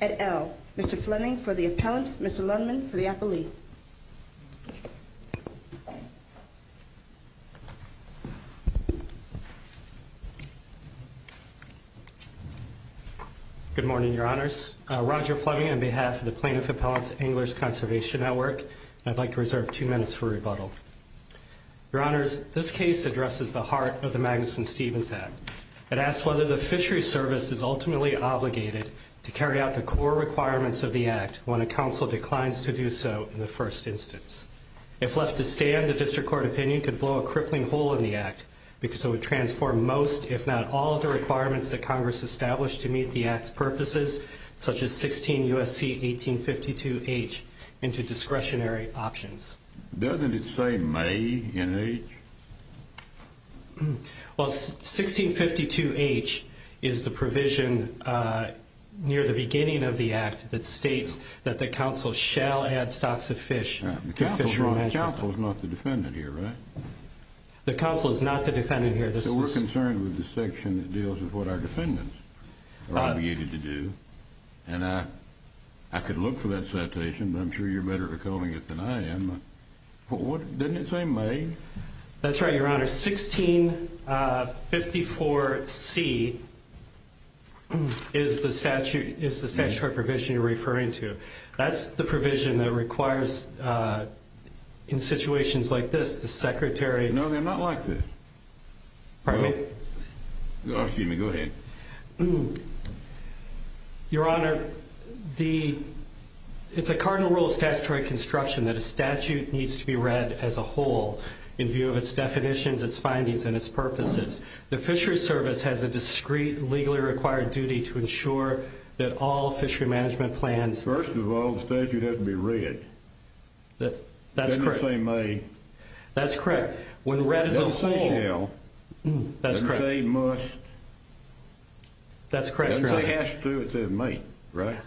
at L. Mr. Flemming for the appellants, Mr. Lundman for the appellees. Good morning, your honors. Roger Flemming on behalf of the plaintiff appellants of Anglers for rebuttal. Your honors, this case addresses the heart of the Magnuson-Stevens Act. It asks whether the fishery service is ultimately obligated to carry out the core requirements of the act when a council declines to do so in the first instance. If left to stand, the district court opinion could blow a crippling hole in the act because it would transform most if not all of the requirements that Congress established to meet the act's purposes, such as 16 U.S.C. 1852H into discretionary options. Doesn't it say may in H? Well, 1652H is the provision near the beginning of the act that states that the council shall add stocks of fish to fishery management. The council is not the defendant here, right? The council is not the defendant here. So we're concerned with the section that deals with what our And I could look for that citation, but I'm sure you're better at recalling it than I am. But what, didn't it say may? That's right, your honors. 1654C is the statute, is the statutory provision you're referring to. That's the provision that requires in situations like this, the secretary... No, they're not like this. Pardon me? Oh, excuse me, go ahead. Your honor, the... It's a cardinal rule of statutory construction that a statute needs to be read as a whole in view of its definitions, its findings, and its purposes. The fishery service has a discreet, legally required duty to ensure that all fishery management plans... That's correct. When read as a whole... It doesn't say shall. That's correct. It doesn't say must. That's correct, your honor. It doesn't say has to. It says may, right?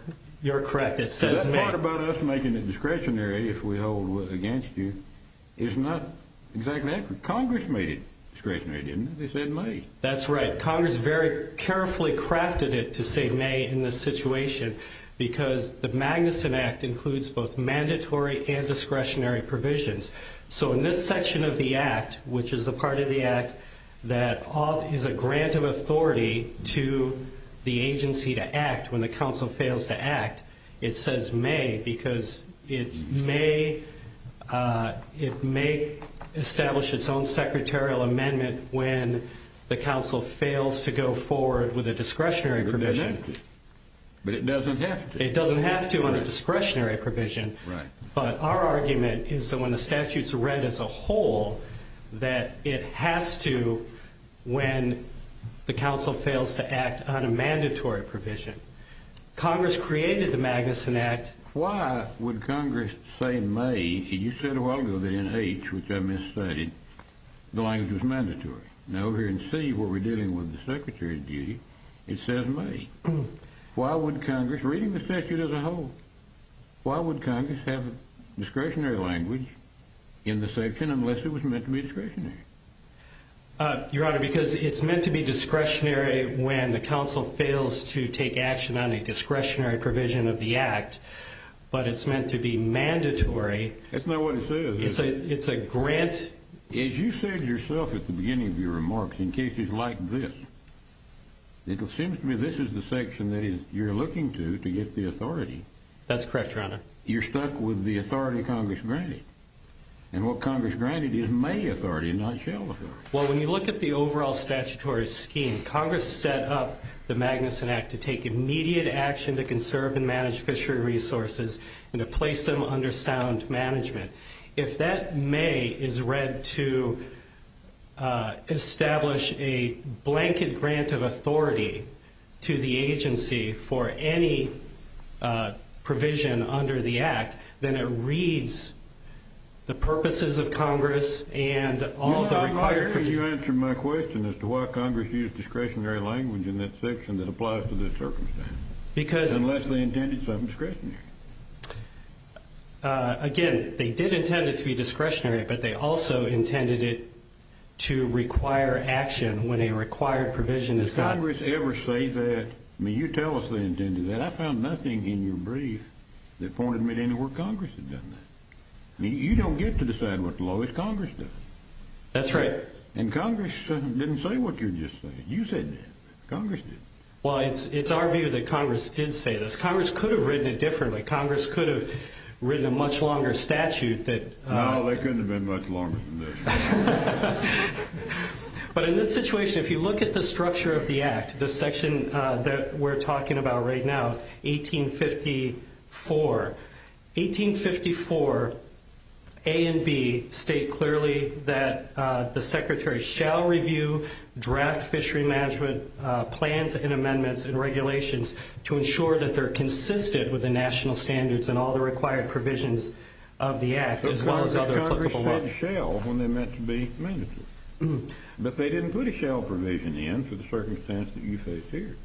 You're correct. It says may. That part about us making it discretionary if we hold against you is not exactly accurate. Congress made it discretionary, didn't it? They said may. That's right. Congress very carefully crafted it to say may in this situation because the Magnuson Act includes both So in this section of the act, which is a part of the act that is a grant of authority to the agency to act when the council fails to act, it says may because it may establish its own secretarial amendment when the council fails to go forward with a discretionary provision. But it doesn't have to. It doesn't have to on a discretionary provision. But our argument is that when the statute's read as a whole, that it has to when the council fails to act on a mandatory provision. Congress created the Magnuson Act... Why would Congress say may? You said a while ago that in H, which I misstudied, the language was mandatory. Now over here in C where we're dealing with the secretary of duty, it says may. Why would Congress, reading the statute as a whole, why would Congress have a discretionary language in the section unless it was meant to be discretionary? Your Honor, because it's meant to be discretionary when the council fails to take action on a discretionary provision of the act. But it's meant to be mandatory. That's not what it says. It's a grant... As you said yourself at the beginning of your remarks, in cases like this, it seems to me this is the section that you're looking to to get the authority. That's correct, Your Honor. But you're stuck with the authority Congress granted. And what Congress granted is may authority, not shall authority. Well, when you look at the overall statutory scheme, Congress set up the Magnuson Act to take immediate action to conserve and manage fishery resources and to place them under sound management. If that may is read to establish a blanket grant of authority to the agency for any provision under the act, then it reads the purposes of Congress and all the required... Your Honor, why can't you answer my question as to why Congress used discretionary language in that section that applies to this circumstance? Unless they intended something discretionary. Again, they did intend it to be discretionary, but they also intended it to require action when a required provision is not... Did Congress ever say that? I mean, you tell us they intended that. I found nothing in your brief that pointed me to anywhere Congress had done that. I mean, you don't get to decide what the law is, Congress does. That's right. And Congress didn't say what you're just saying. You said that. Congress did. Well, it's our view that Congress did say this. Congress could have written it differently. Congress could have written a much longer statute that... No, they couldn't have been much longer than this. But in this situation, if you look at the structure of the act, the section that we're talking about right now, 1854. 1854, A and B state clearly that the Secretary shall review draft fishery management plans and amendments and regulations to ensure that they're consistent with the national standards and all the required provisions of the act as well as other... But Congress said shall when they meant to be mandatory. But they didn't put a shall provision in for the circumstance that you faced here.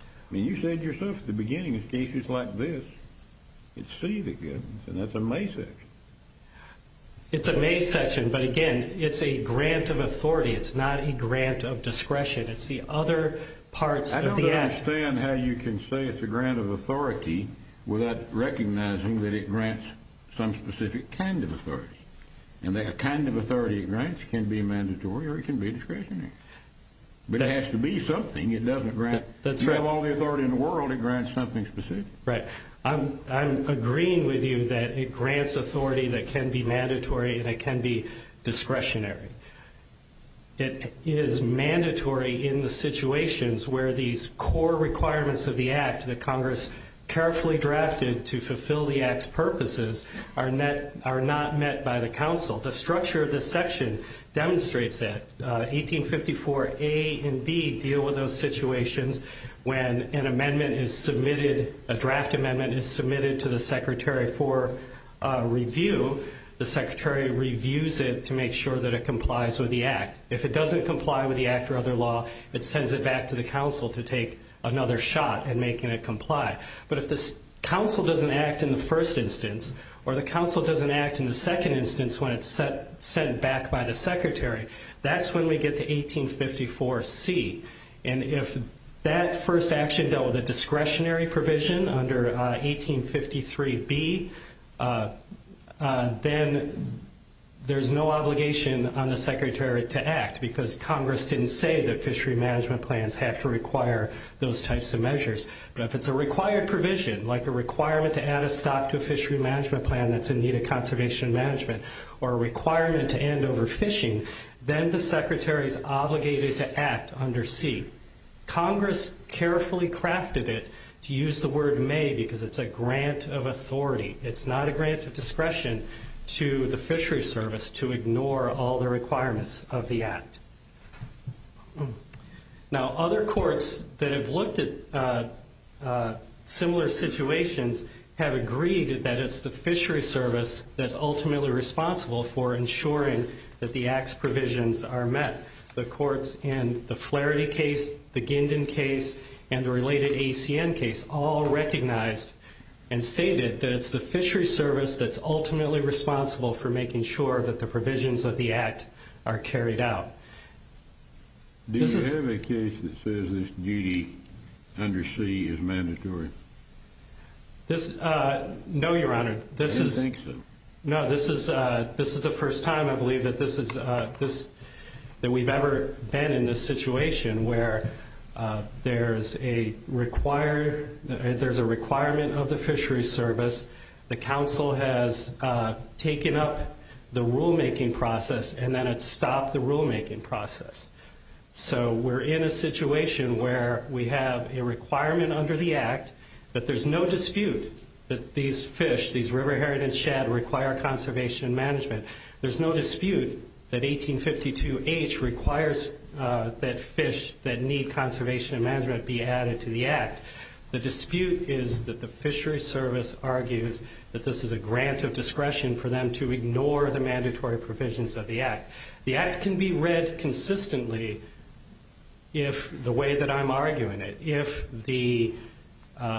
I mean, you said yourself at the beginning, in cases like this, it's C that gets it, and that's a May section. It's a May section, but again, it's a grant of authority. It's not a grant of discretion. It's the other parts of the act... I don't understand how you can say it's a grant of authority without recognizing that it grants some specific kind of authority. And the kind of authority it grants can be mandatory or it can be discretionary. But it has to be something. It doesn't grant... That's right. If you have all the authority in the world, it grants something specific. Right. I'm agreeing with you that it grants authority that can be mandatory and it can be discretionary. It is mandatory in the situations where these core requirements of the act that Congress carefully drafted to fulfill the act's purposes are not met by the council. The structure of this section demonstrates that. 1854 A and B deal with those situations when an amendment is submitted, a draft amendment is submitted to the secretary for review. The secretary reviews it to make sure that it complies with the act. If it doesn't comply with the act or other law, it sends it back to the council to take another shot at making it comply. But if the council doesn't act in the first instance or the council doesn't act in the second instance when it's sent back by the secretary, that's when we get to 1854 C. And if that first action dealt with a discretionary provision under 1853 B, then there's no obligation on the secretary to act because Congress didn't say that fishery management plans have to require those types of measures. But if it's a required provision, like a requirement to add a stock to a fishery management plan that's in need of conservation management or a requirement to end overfishing, then the secretary is obligated to act under C. Congress carefully crafted it to use the word may because it's a grant of authority. It's not a grant of discretion to the fishery service to ignore all the requirements of the act. Now, other courts that have looked at similar situations have agreed that it's the fishery service that's ultimately responsible for ensuring that the act's provisions are met. The courts in the Flaherty case, the Gindin case, and the related ACN case all recognized and stated that it's the fishery service that's ultimately responsible for making sure that the provisions of the act are carried out. Do you have a case that says this duty under C is mandatory? No, Your Honor. I don't think so. No, this is the first time, I believe, that we've ever been in a situation where there's a requirement of the fishery service. The council has taken up the rulemaking process and then it stopped the rulemaking process. So we're in a situation where we have a requirement under the act that there's no dispute that these fish, these river heritage shed, require conservation and management. There's no dispute that 1852H requires that fish that need conservation and management be added to the act. The dispute is that the fishery service argues that this is a grant of discretion for them to ignore the mandatory provisions of the act. The act can be read consistently, the way that I'm arguing it, if the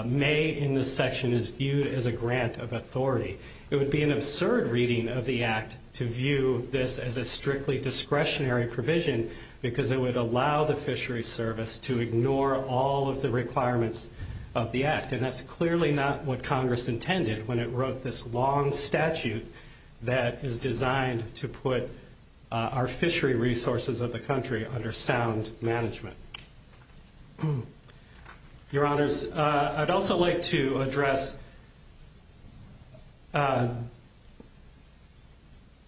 may in this section is viewed as a grant of authority. It would be an absurd reading of the act to view this as a strictly discretionary provision because it would allow the fishery service to ignore all of the requirements of the act. And that's clearly not what Congress intended when it wrote this long statute that is designed to put our fishery resources of the country under sound management. Your honors, I'd also like to address the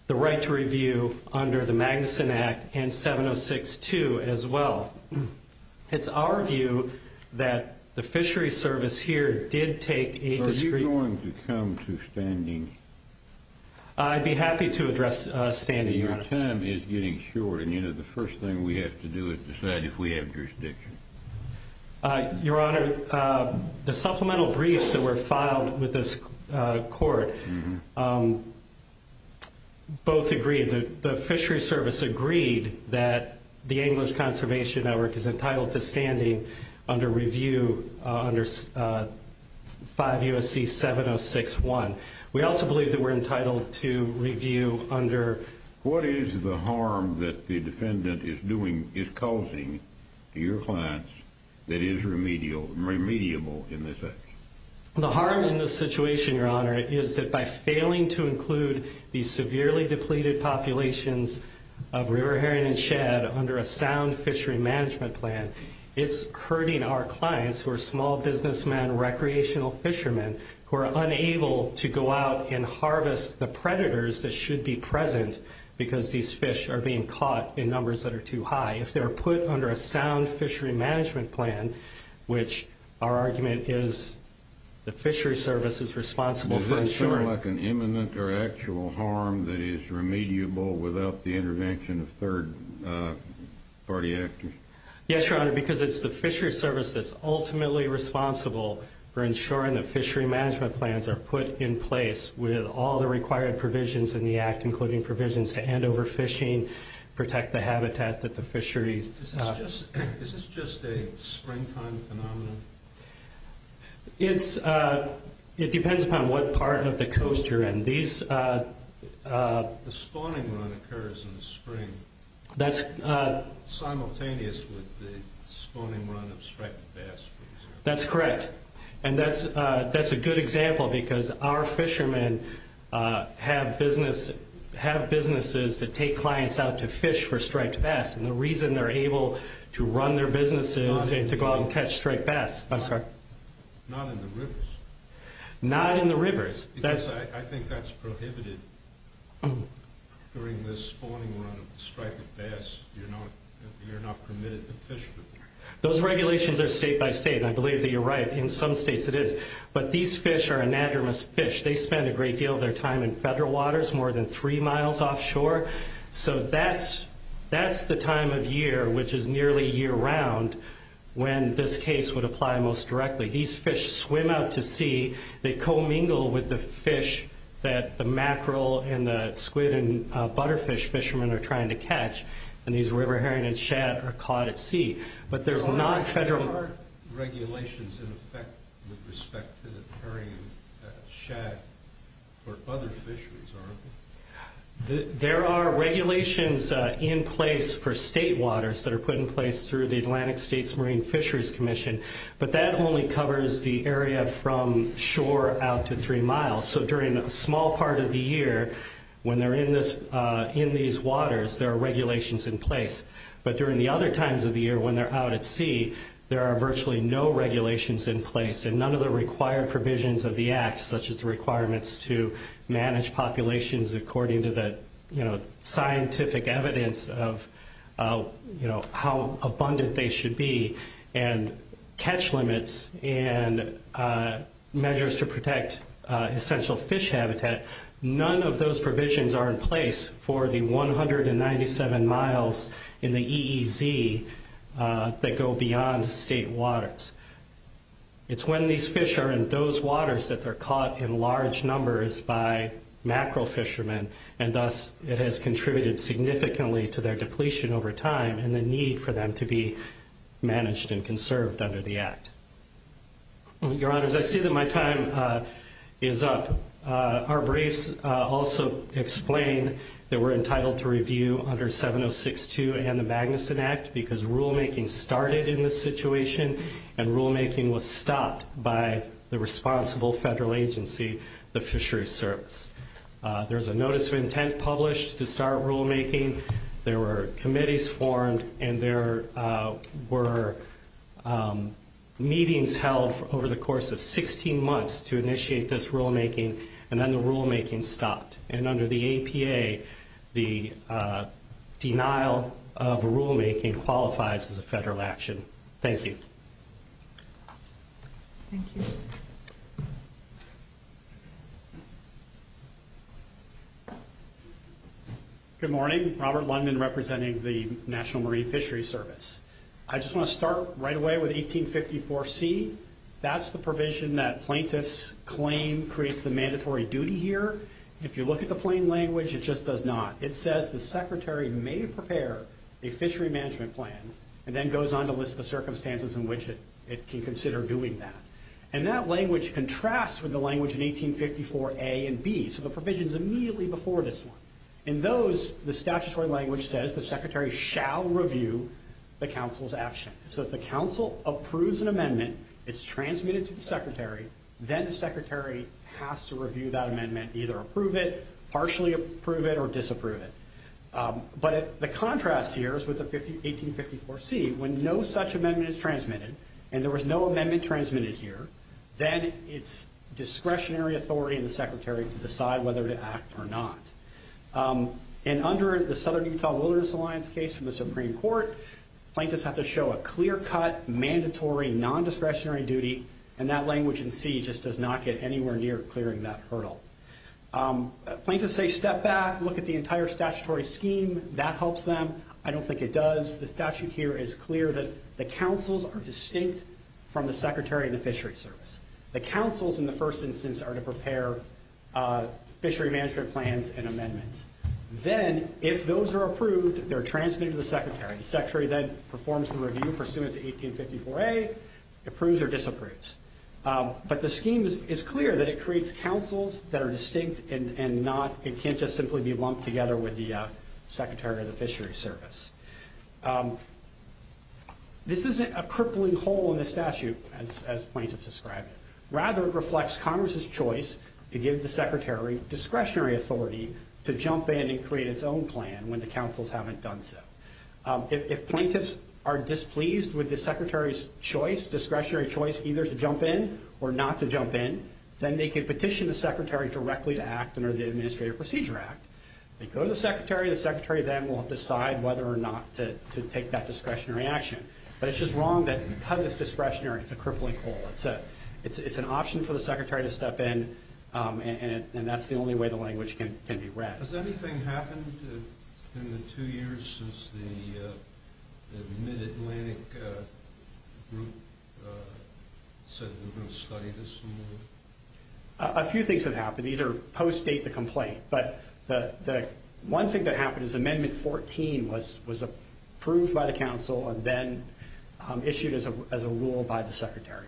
right to review under the Magnuson Act and 706-2 as well. It's our view that the fishery service here did take a discre- It's going to come to standings. I'd be happy to address standings, your honor. Your time is getting short and the first thing we have to do is decide if we have jurisdiction. Your honor, the supplemental briefs that were filed with this court both agree that the fishery service agreed that the English Conservation Network is entitled to standing under review under 5 U.S.C. 706-1. We also believe that we're entitled to review under- What is the harm that the defendant is doing, is causing to your clients that is remedial, remediable in this act? The harm in this situation, your honor, is that by failing to include these severely depleted populations of river herring and shad under a sound fishery management plan, it's hurting our clients who are small businessmen, recreational fishermen, who are unable to go out and harvest the predators that should be present because these fish are being caught in numbers that are too high. If they're put under a sound fishery management plan, which our argument is the fishery service is responsible for ensuring- Is there any actual harm that is remediable without the intervention of third-party actors? Yes, your honor, because it's the fishery service that's ultimately responsible for ensuring that fishery management plans are put in place with all the required provisions in the act, including provisions to end overfishing, protect the habitat that the fisheries- Is this just a springtime phenomenon? It depends upon what part of the coast you're in. The spawning run occurs in the spring simultaneous with the spawning run of striped bass, for example. That's correct. And that's a good example because our fishermen have businesses that take clients out to fish for striped bass and the reason they're able to run their businesses is to go out and catch striped bass. Not in the rivers. Because I think that's prohibited during the spawning run of striped bass. You're not permitted to fish. Those regulations are state by state and I believe that you're right. In some states it is, but these fish are anadromous fish. They spend a great deal of their time in federal waters, more than three miles offshore. So that's the time of year, which is nearly year-round when this case would apply most directly. These fish swim out to sea, they co-mingle with the fish that the mackerel and the squid and butterfish fishermen are trying to catch and these river herring and shad are caught at sea. But there's not federal- There are regulations in effect with respect to the herring and shad for other fisheries, aren't there? There are regulations in place for state waters that are put in place through the Atlantic States Marine Fisheries Commission but that only covers the area from shore out to three miles. So during a small part of the year, when they're in this in these waters, there are regulations in place. But during the other times of the year when they're out at sea, there are virtually no regulations in place and none of the required provisions of the act, such as the requirements to manage populations according to the scientific evidence of how abundant they should be and catch limits and measures to protect essential fish habitat, none of those provisions are in place for the 197 miles in the EEZ that go beyond state waters. It's when these fish are in those large numbers by macro fishermen and thus it has contributed significantly to their depletion over time and the need for them to be managed and conserved under the act. Your Honors, I see that my time is up. Our briefs also explain that we're entitled to review under 7062 and the Magnuson Act because rulemaking started in this situation and rulemaking was stopped by the responsible federal agency, the Fisheries Service. There's a notice of intent published to start rulemaking. There were committees formed and there were meetings held over the course of 16 months to initiate this rulemaking and then the rulemaking stopped. And under the APA, the denial of rulemaking qualifies as a federal action. Thank you. Thank you. Good morning. Robert Lundman representing the National Marine Fisheries Service. I just want to start right away with 1854C. That's the provision that plaintiff's claim creates the mandatory duty here. If you look at the plain language, it just does not. It says the secretary may prepare a fishery management plan and then goes on to list the circumstances in which it can consider doing that. And that language contrasts with the language in 1854A and B. So the provision is immediately before this one. In those, the statutory language says the secretary shall review the counsel's action. So if the counsel approves an amendment, it's transmitted to the secretary, then the secretary has to review that amendment, either approve it, partially approve it, or disapprove it. But the contrast here is with the 1854C. When no such amendment is transmitted and there was no amendment transmitted here, then it's discretionary authority of the secretary to decide whether to act or not. And under the Southern Utah Wilderness Alliance case from the Supreme Court, plaintiffs have to show a clear-cut, mandatory, non-discretionary duty, and that language in C just does not get anywhere near clearing that hurdle. Plaintiffs say step back, look at the entire statutory scheme, that helps them. I don't think it does. The statute here is clear that the counsels are distinct from the secretary and the fishery service. The counsels, in the first instance, are to prepare fishery management plans and amendments. Then, if those are approved, they're transmitted to the secretary. The secretary then performs the review pursuant to 1854A, approves or disapproves. But the scheme is clear that it creates counsels that are distinct and can't just simply be lumped together with the secretary of the fishery service. This isn't a crippling hole in the statute as plaintiffs describe it. Rather, it reflects Congress' choice to give the secretary discretionary authority to jump in and create its own plan when the counsels haven't done so. If plaintiffs are displeased with the secretary's choice, discretionary choice, either to jump in or not to jump in, then they can petition the secretary directly to act under the Administrative Procedure Act. They go to the secretary, the secretary then will decide whether or not to take that discretionary action. But it's just wrong that because it's discretionary, it's a crippling hole. It's an option for the secretary to step in, and that's the only way the language can be read. Has anything happened in the two years since the Mid-Atlantic group said we're going to study this some more? A few things have happened. These are post-State the complaint, but the one thing that happened is Amendment 14 was approved by the counsel and then issued as a rule by the secretary.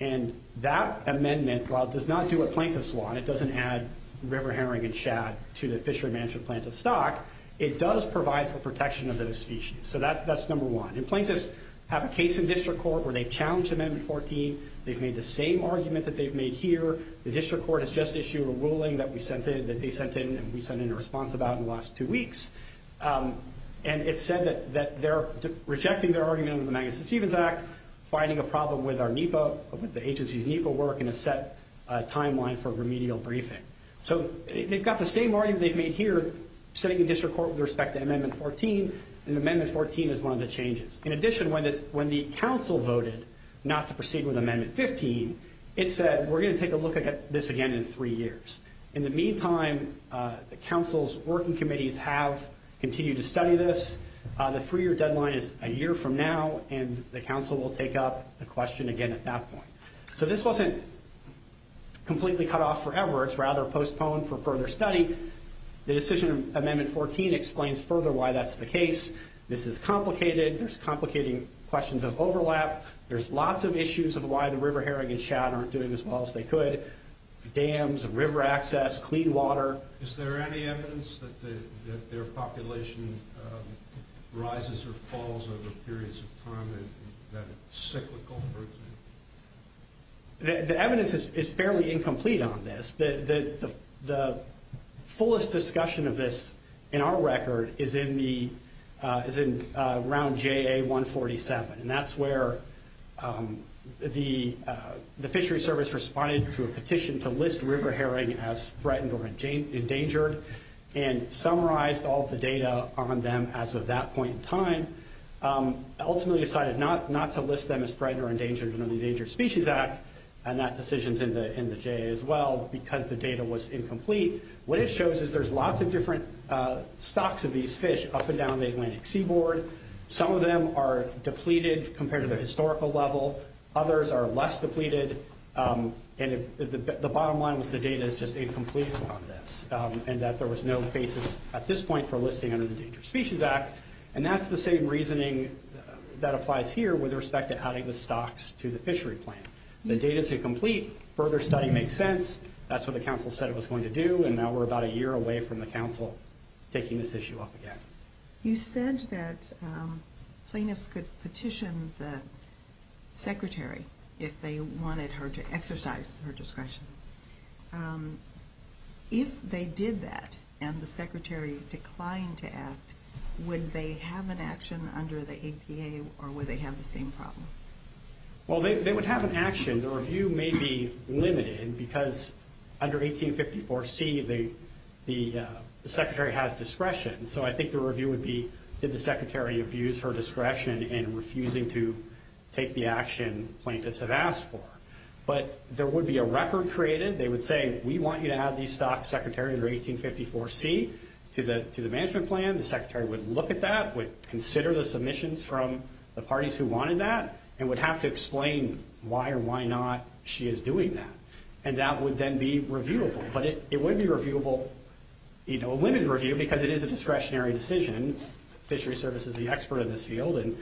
And that amendment, while it does not do what plaintiffs want, it doesn't add river herring and shad to the fishery management plans of stock, it does provide for protection of those species. So that's number one. And plaintiffs have a case in district court where they've challenged Amendment 14, they've made the same argument that they've made here. The district court has just issued a ruling that they sent in and we sent in a response about in the last two weeks. And it said that they're rejecting their argument under the Magnuson-Stevens Act, finding a problem with our NEPA, with the agency's NEPA work, and a set timeline for remedial briefing. So they've got the same argument they've made here, setting a district court with respect to Amendment 14, and Amendment 14 is one of the changes. In addition, when the counsel voted not to proceed with Amendment 15, it said we're going to take a look at this again in three years. In the meantime, the counsel's working committees have continued to study this. The three-year deadline is a year from now, and the counsel will take up the question again at that point. So this wasn't completely cut off forever, it's rather postponed for further study. The decision on Amendment 14 explains further why that's the case. This is complicated, there's complicating questions of overlap, there's lots of issues of why the River Herring and Chad aren't doing as well as they could. Dams, river access, clean water. Is there any evidence that their population rises or falls over periods of time and that it's cyclical? The evidence is fairly incomplete on this. The fullest discussion of this in our record is in the round JA 147, and that's where the fishery service responded to a petition to list River Herring as threatened or endangered, and summarized all of the data on them as of that point in time. Ultimately decided not to list them as threatened or endangered under the Endangered Species Act, and that decision's in the JA as well, because the data was incomplete. What it shows is there's lots of different stocks of these fish up and down the Atlantic seaboard. Some of them are depleted compared to their historical level, others are less depleted, and the bottom line was the data is just incomplete on this, and that there was no basis at this point for listing under the Endangered Species Act, and that's the same reasoning that applies here with respect to adding the stocks to the fishery plan. The data's incomplete, further study makes sense, that's what the council said it was going to do, and now we're about a year away from the council taking this issue up again. You said that plaintiffs could petition the secretary if they wanted her to exercise her discretion. If they did that, and the secretary declined to act, would they have an action under the APA, or would they have the same problem? Well, they would have an action. The review may be limited, because under 1854C, the secretary has discretion, so I think the review would be did the secretary abuse her discretion in refusing to take the action plaintiffs have asked for. But there would be a record created, they would say, we want you to add the stock secretary under 1854C to the management plan, the secretary would look at that, would consider the submissions from the parties who wanted that, and would have to explain why or why not she is doing that. And that would then be reviewable. But it would be reviewable, a limited review, because it is a discretionary decision, fishery service is the expert in this field, and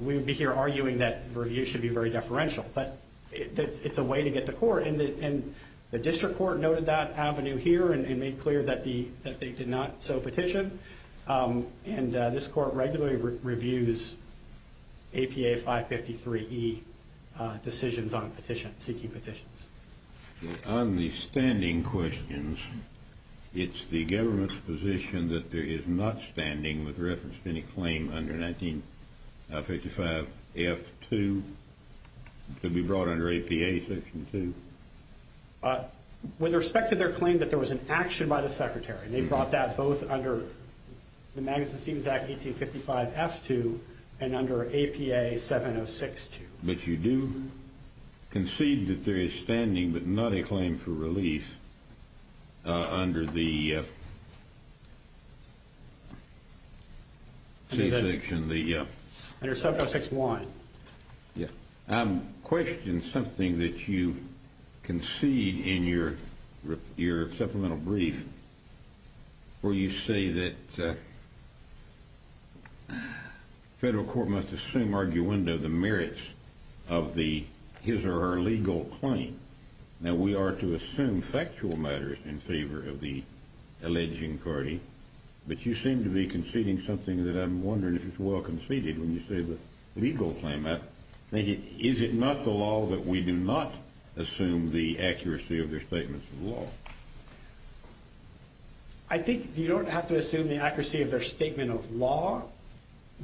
we would be here arguing that review should be very deferential. But it's a way to get to court, and the district court noted that avenue here, and made clear that they did not so petition. And this court regularly reviews APA 553E decisions on seeking petitions. On the standing questions, it's the government's position that there is not standing with reference to any claim under 1955F2 to be brought under APA section 2? With respect to their claim that there was an action by the secretary, they brought that both under the Magnuson-Stevens Act 1855F2 and under APA 706-2. But you do concede that there is standing, but not a claim for release under the under 706-1. I'm questioning something that you concede in your supplemental brief where you say that federal court must assume arguendo the merits of the his or her legal claim. Now we are to assume factual matters in favor of the alleging party, but you seem to be conceding something that I'm wondering if it's well conceded when you say the legal claim. Is it not the law that we do not assume the accuracy of their statements of law? I think you don't have to assume the accuracy of their statement of law.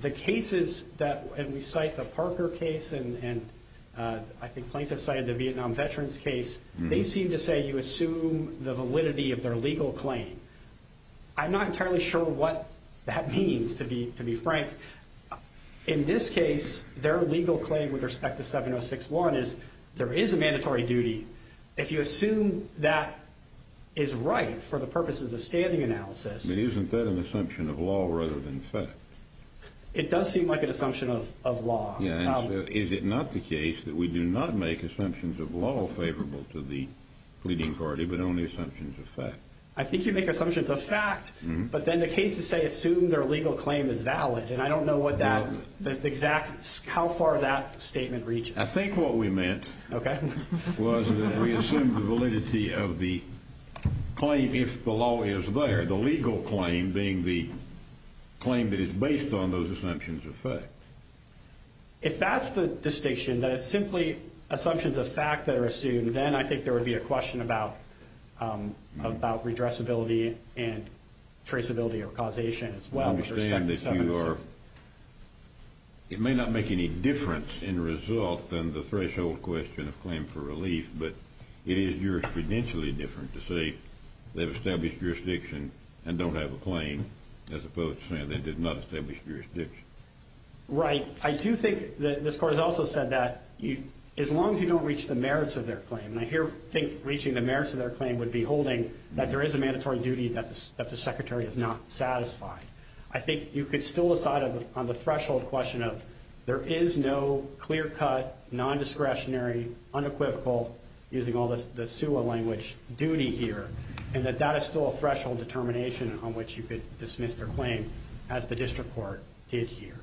The cases that, and we cite the Parker case and I think Plaintiff cited the Vietnam Veterans case, they seem to say you assume the validity of their legal claim. I'm not entirely sure what that means to be frank. In this case their legal claim with respect to 706-1 is there is a mandatory duty. If you assume that is right for the purposes of standing analysis. Isn't that an assumption of law rather than fact? It does seem like an assumption of law. Is it not the case that we do not make assumptions of law favorable to the pleading party but only assumptions of fact? I think you make assumptions of fact but then the cases say assume their legal claim is valid and I don't know what that exact, how far that statement reaches. I think what we meant was that we assumed the validity of the claim if the law is there. The legal claim being the claim that is based on those assumptions of fact. If that's the distinction, that it's simply assumptions of fact that are assumed, then I think there would be a question about redressability and traceability or causation as well with respect to 706. I understand that you are, it may not make any difference in result than the threshold question of claim for relief but it is jurisprudentially different to say they've established jurisdiction and don't have a claim as opposed to saying they did not establish jurisdiction. Right. I do think that this Court has also said that as long as you don't reach the merits of their claim, and I here think reaching the merits of their claim would be holding that there is a mandatory duty that the Secretary is not satisfied. I think you could still decide on the threshold question of there is no clear-cut, non-discretionary, unequivocal, using all the SUA language, duty here and that that is still a threshold determination on which you could dismiss their claim as the District Court did here.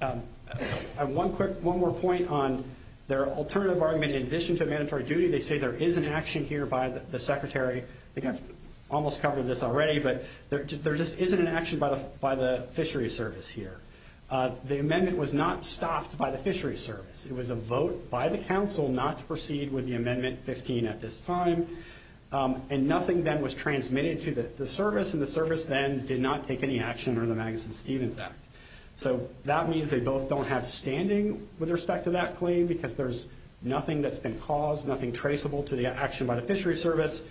One more point on their alternative argument in addition to mandatory duty, they say there is an action here by the Secretary, I think I've almost covered this already, but there just isn't an action by the Fishery Service here. The amendment was not stopped by the Fishery Service. It was a vote by the Council not to amend Amendment 15 at this time, and nothing then was transmitted to the Service, and the Service then did not take any action under the Magnuson-Stevens Act. So that means they both don't have standing with respect to that claim because there's nothing that's been caused, nothing traceable to the action by the Fishery Service,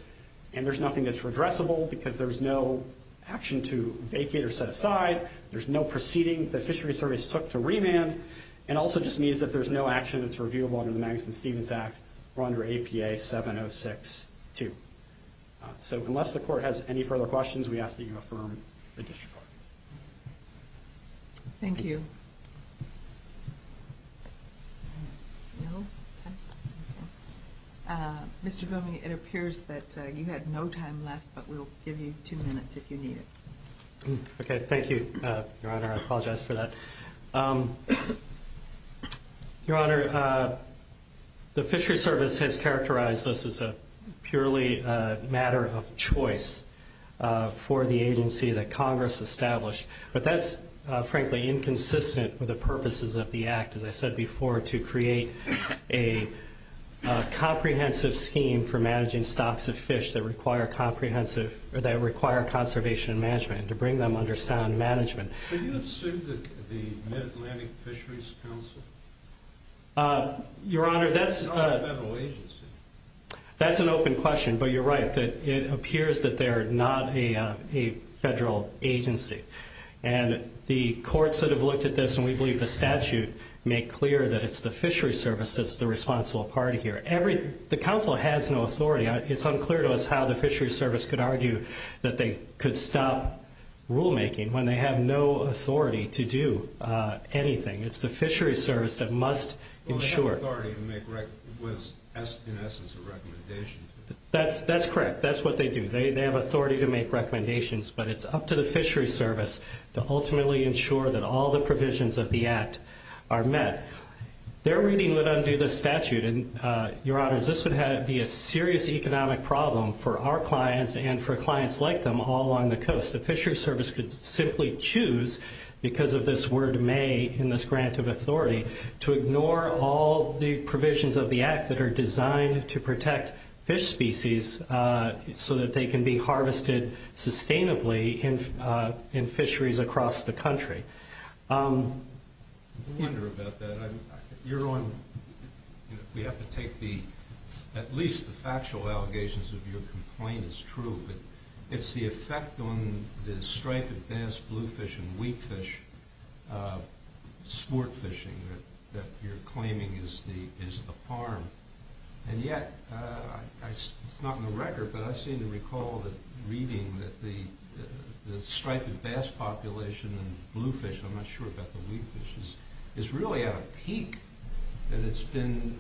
and there's nothing that's redressable because there's no action to vacate or set aside, there's no proceeding that the Fishery Service took to remand, and also just means that there's no action that's reviewable under the Magnuson-Stevens Act or under APA 706-2. So unless the Court has any further questions, we ask that you affirm the District Court. Thank you. No? Okay. Mr. Boehme, it appears that you had no time left, but we'll give you two minutes if you need it. Okay, thank you. Your Honor, I apologize for that. Your Honor, the Fishery Service has characterized this as a purely matter of choice for the agency that Congress established, but that's frankly inconsistent with the purposes of the Act, as I said before, to create a comprehensive scheme for managing stocks of fish that require comprehensive or that require conservation management, to bring them under sound management. Do you assume that the Mid-Atlantic Fisheries Council is not a federal agency? That's an open question, but you're right. It appears that they're not a federal agency, and the courts that have looked at this, and we believe the statute, make clear that it's the Fishery Service that's the responsible party here. The Council has no authority. It's unclear to us how the Fishery Service could argue that they could stop rulemaking when they have no authority to do anything. It's the Fishery Service that must ensure. That's correct. That's what they do. They have authority to make recommendations, but it's up to the Fishery Service to ultimately ensure that all the provisions of the Act are met. Their reading would undo the statute, and Your Honor, this would be a serious economic problem for our clients and for us. The Fishery Service could simply choose, because of this word may in this grant of authority, to ignore all the provisions of the Act that are designed to protect fish species so that they can be harvested sustainably in fisheries across the country. I wonder about that. Your Honor, we have to take the at least the factual allegations of your complaint is true, but it's the effect on the striped bass, bluefish, and wheatfish sport fishing that you're claiming is the harm. And yet, it's not in the record, but I seem to recall the reading that the striped bass population and bluefish I'm not sure about the wheatfish, is really at a peak and it's been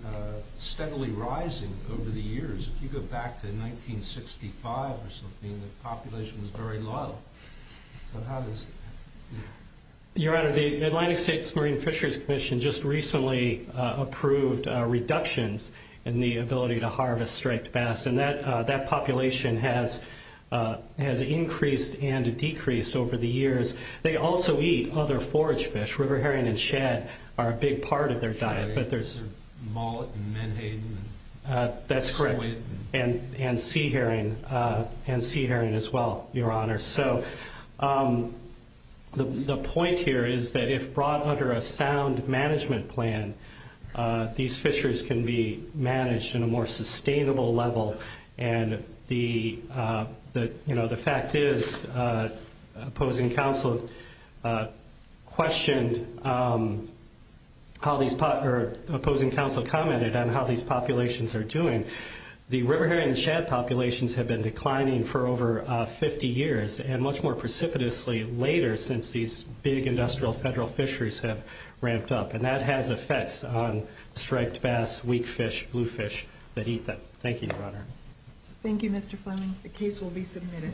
steadily rising over the years. If you go back to 1965 or something, the population was very low. Your Honor, the Atlantic States Marine Fisheries Commission just recently approved reductions in the ability to harvest striped bass, and that population has increased and decreased over the years. They also eat other forage fish. River herring and shad are a big part of their diet. Mullet and menhaden? That's correct. And sea herring as well, Your Honor. The point here is that if brought under a sound management plan, these fishers can be managed in a more sustainable level and the fact is opposing counsel questioned or opposing counsel commented on how these populations are doing. The river herring and shad populations have been declining for over 50 years and much more precipitously later since these big industrial federal fisheries have ramped up and that has effects on striped bass, wheatfish, bluefish that eat them. Thank you, Your Honor. Thank you, Mr. Fleming. The case will be submitted.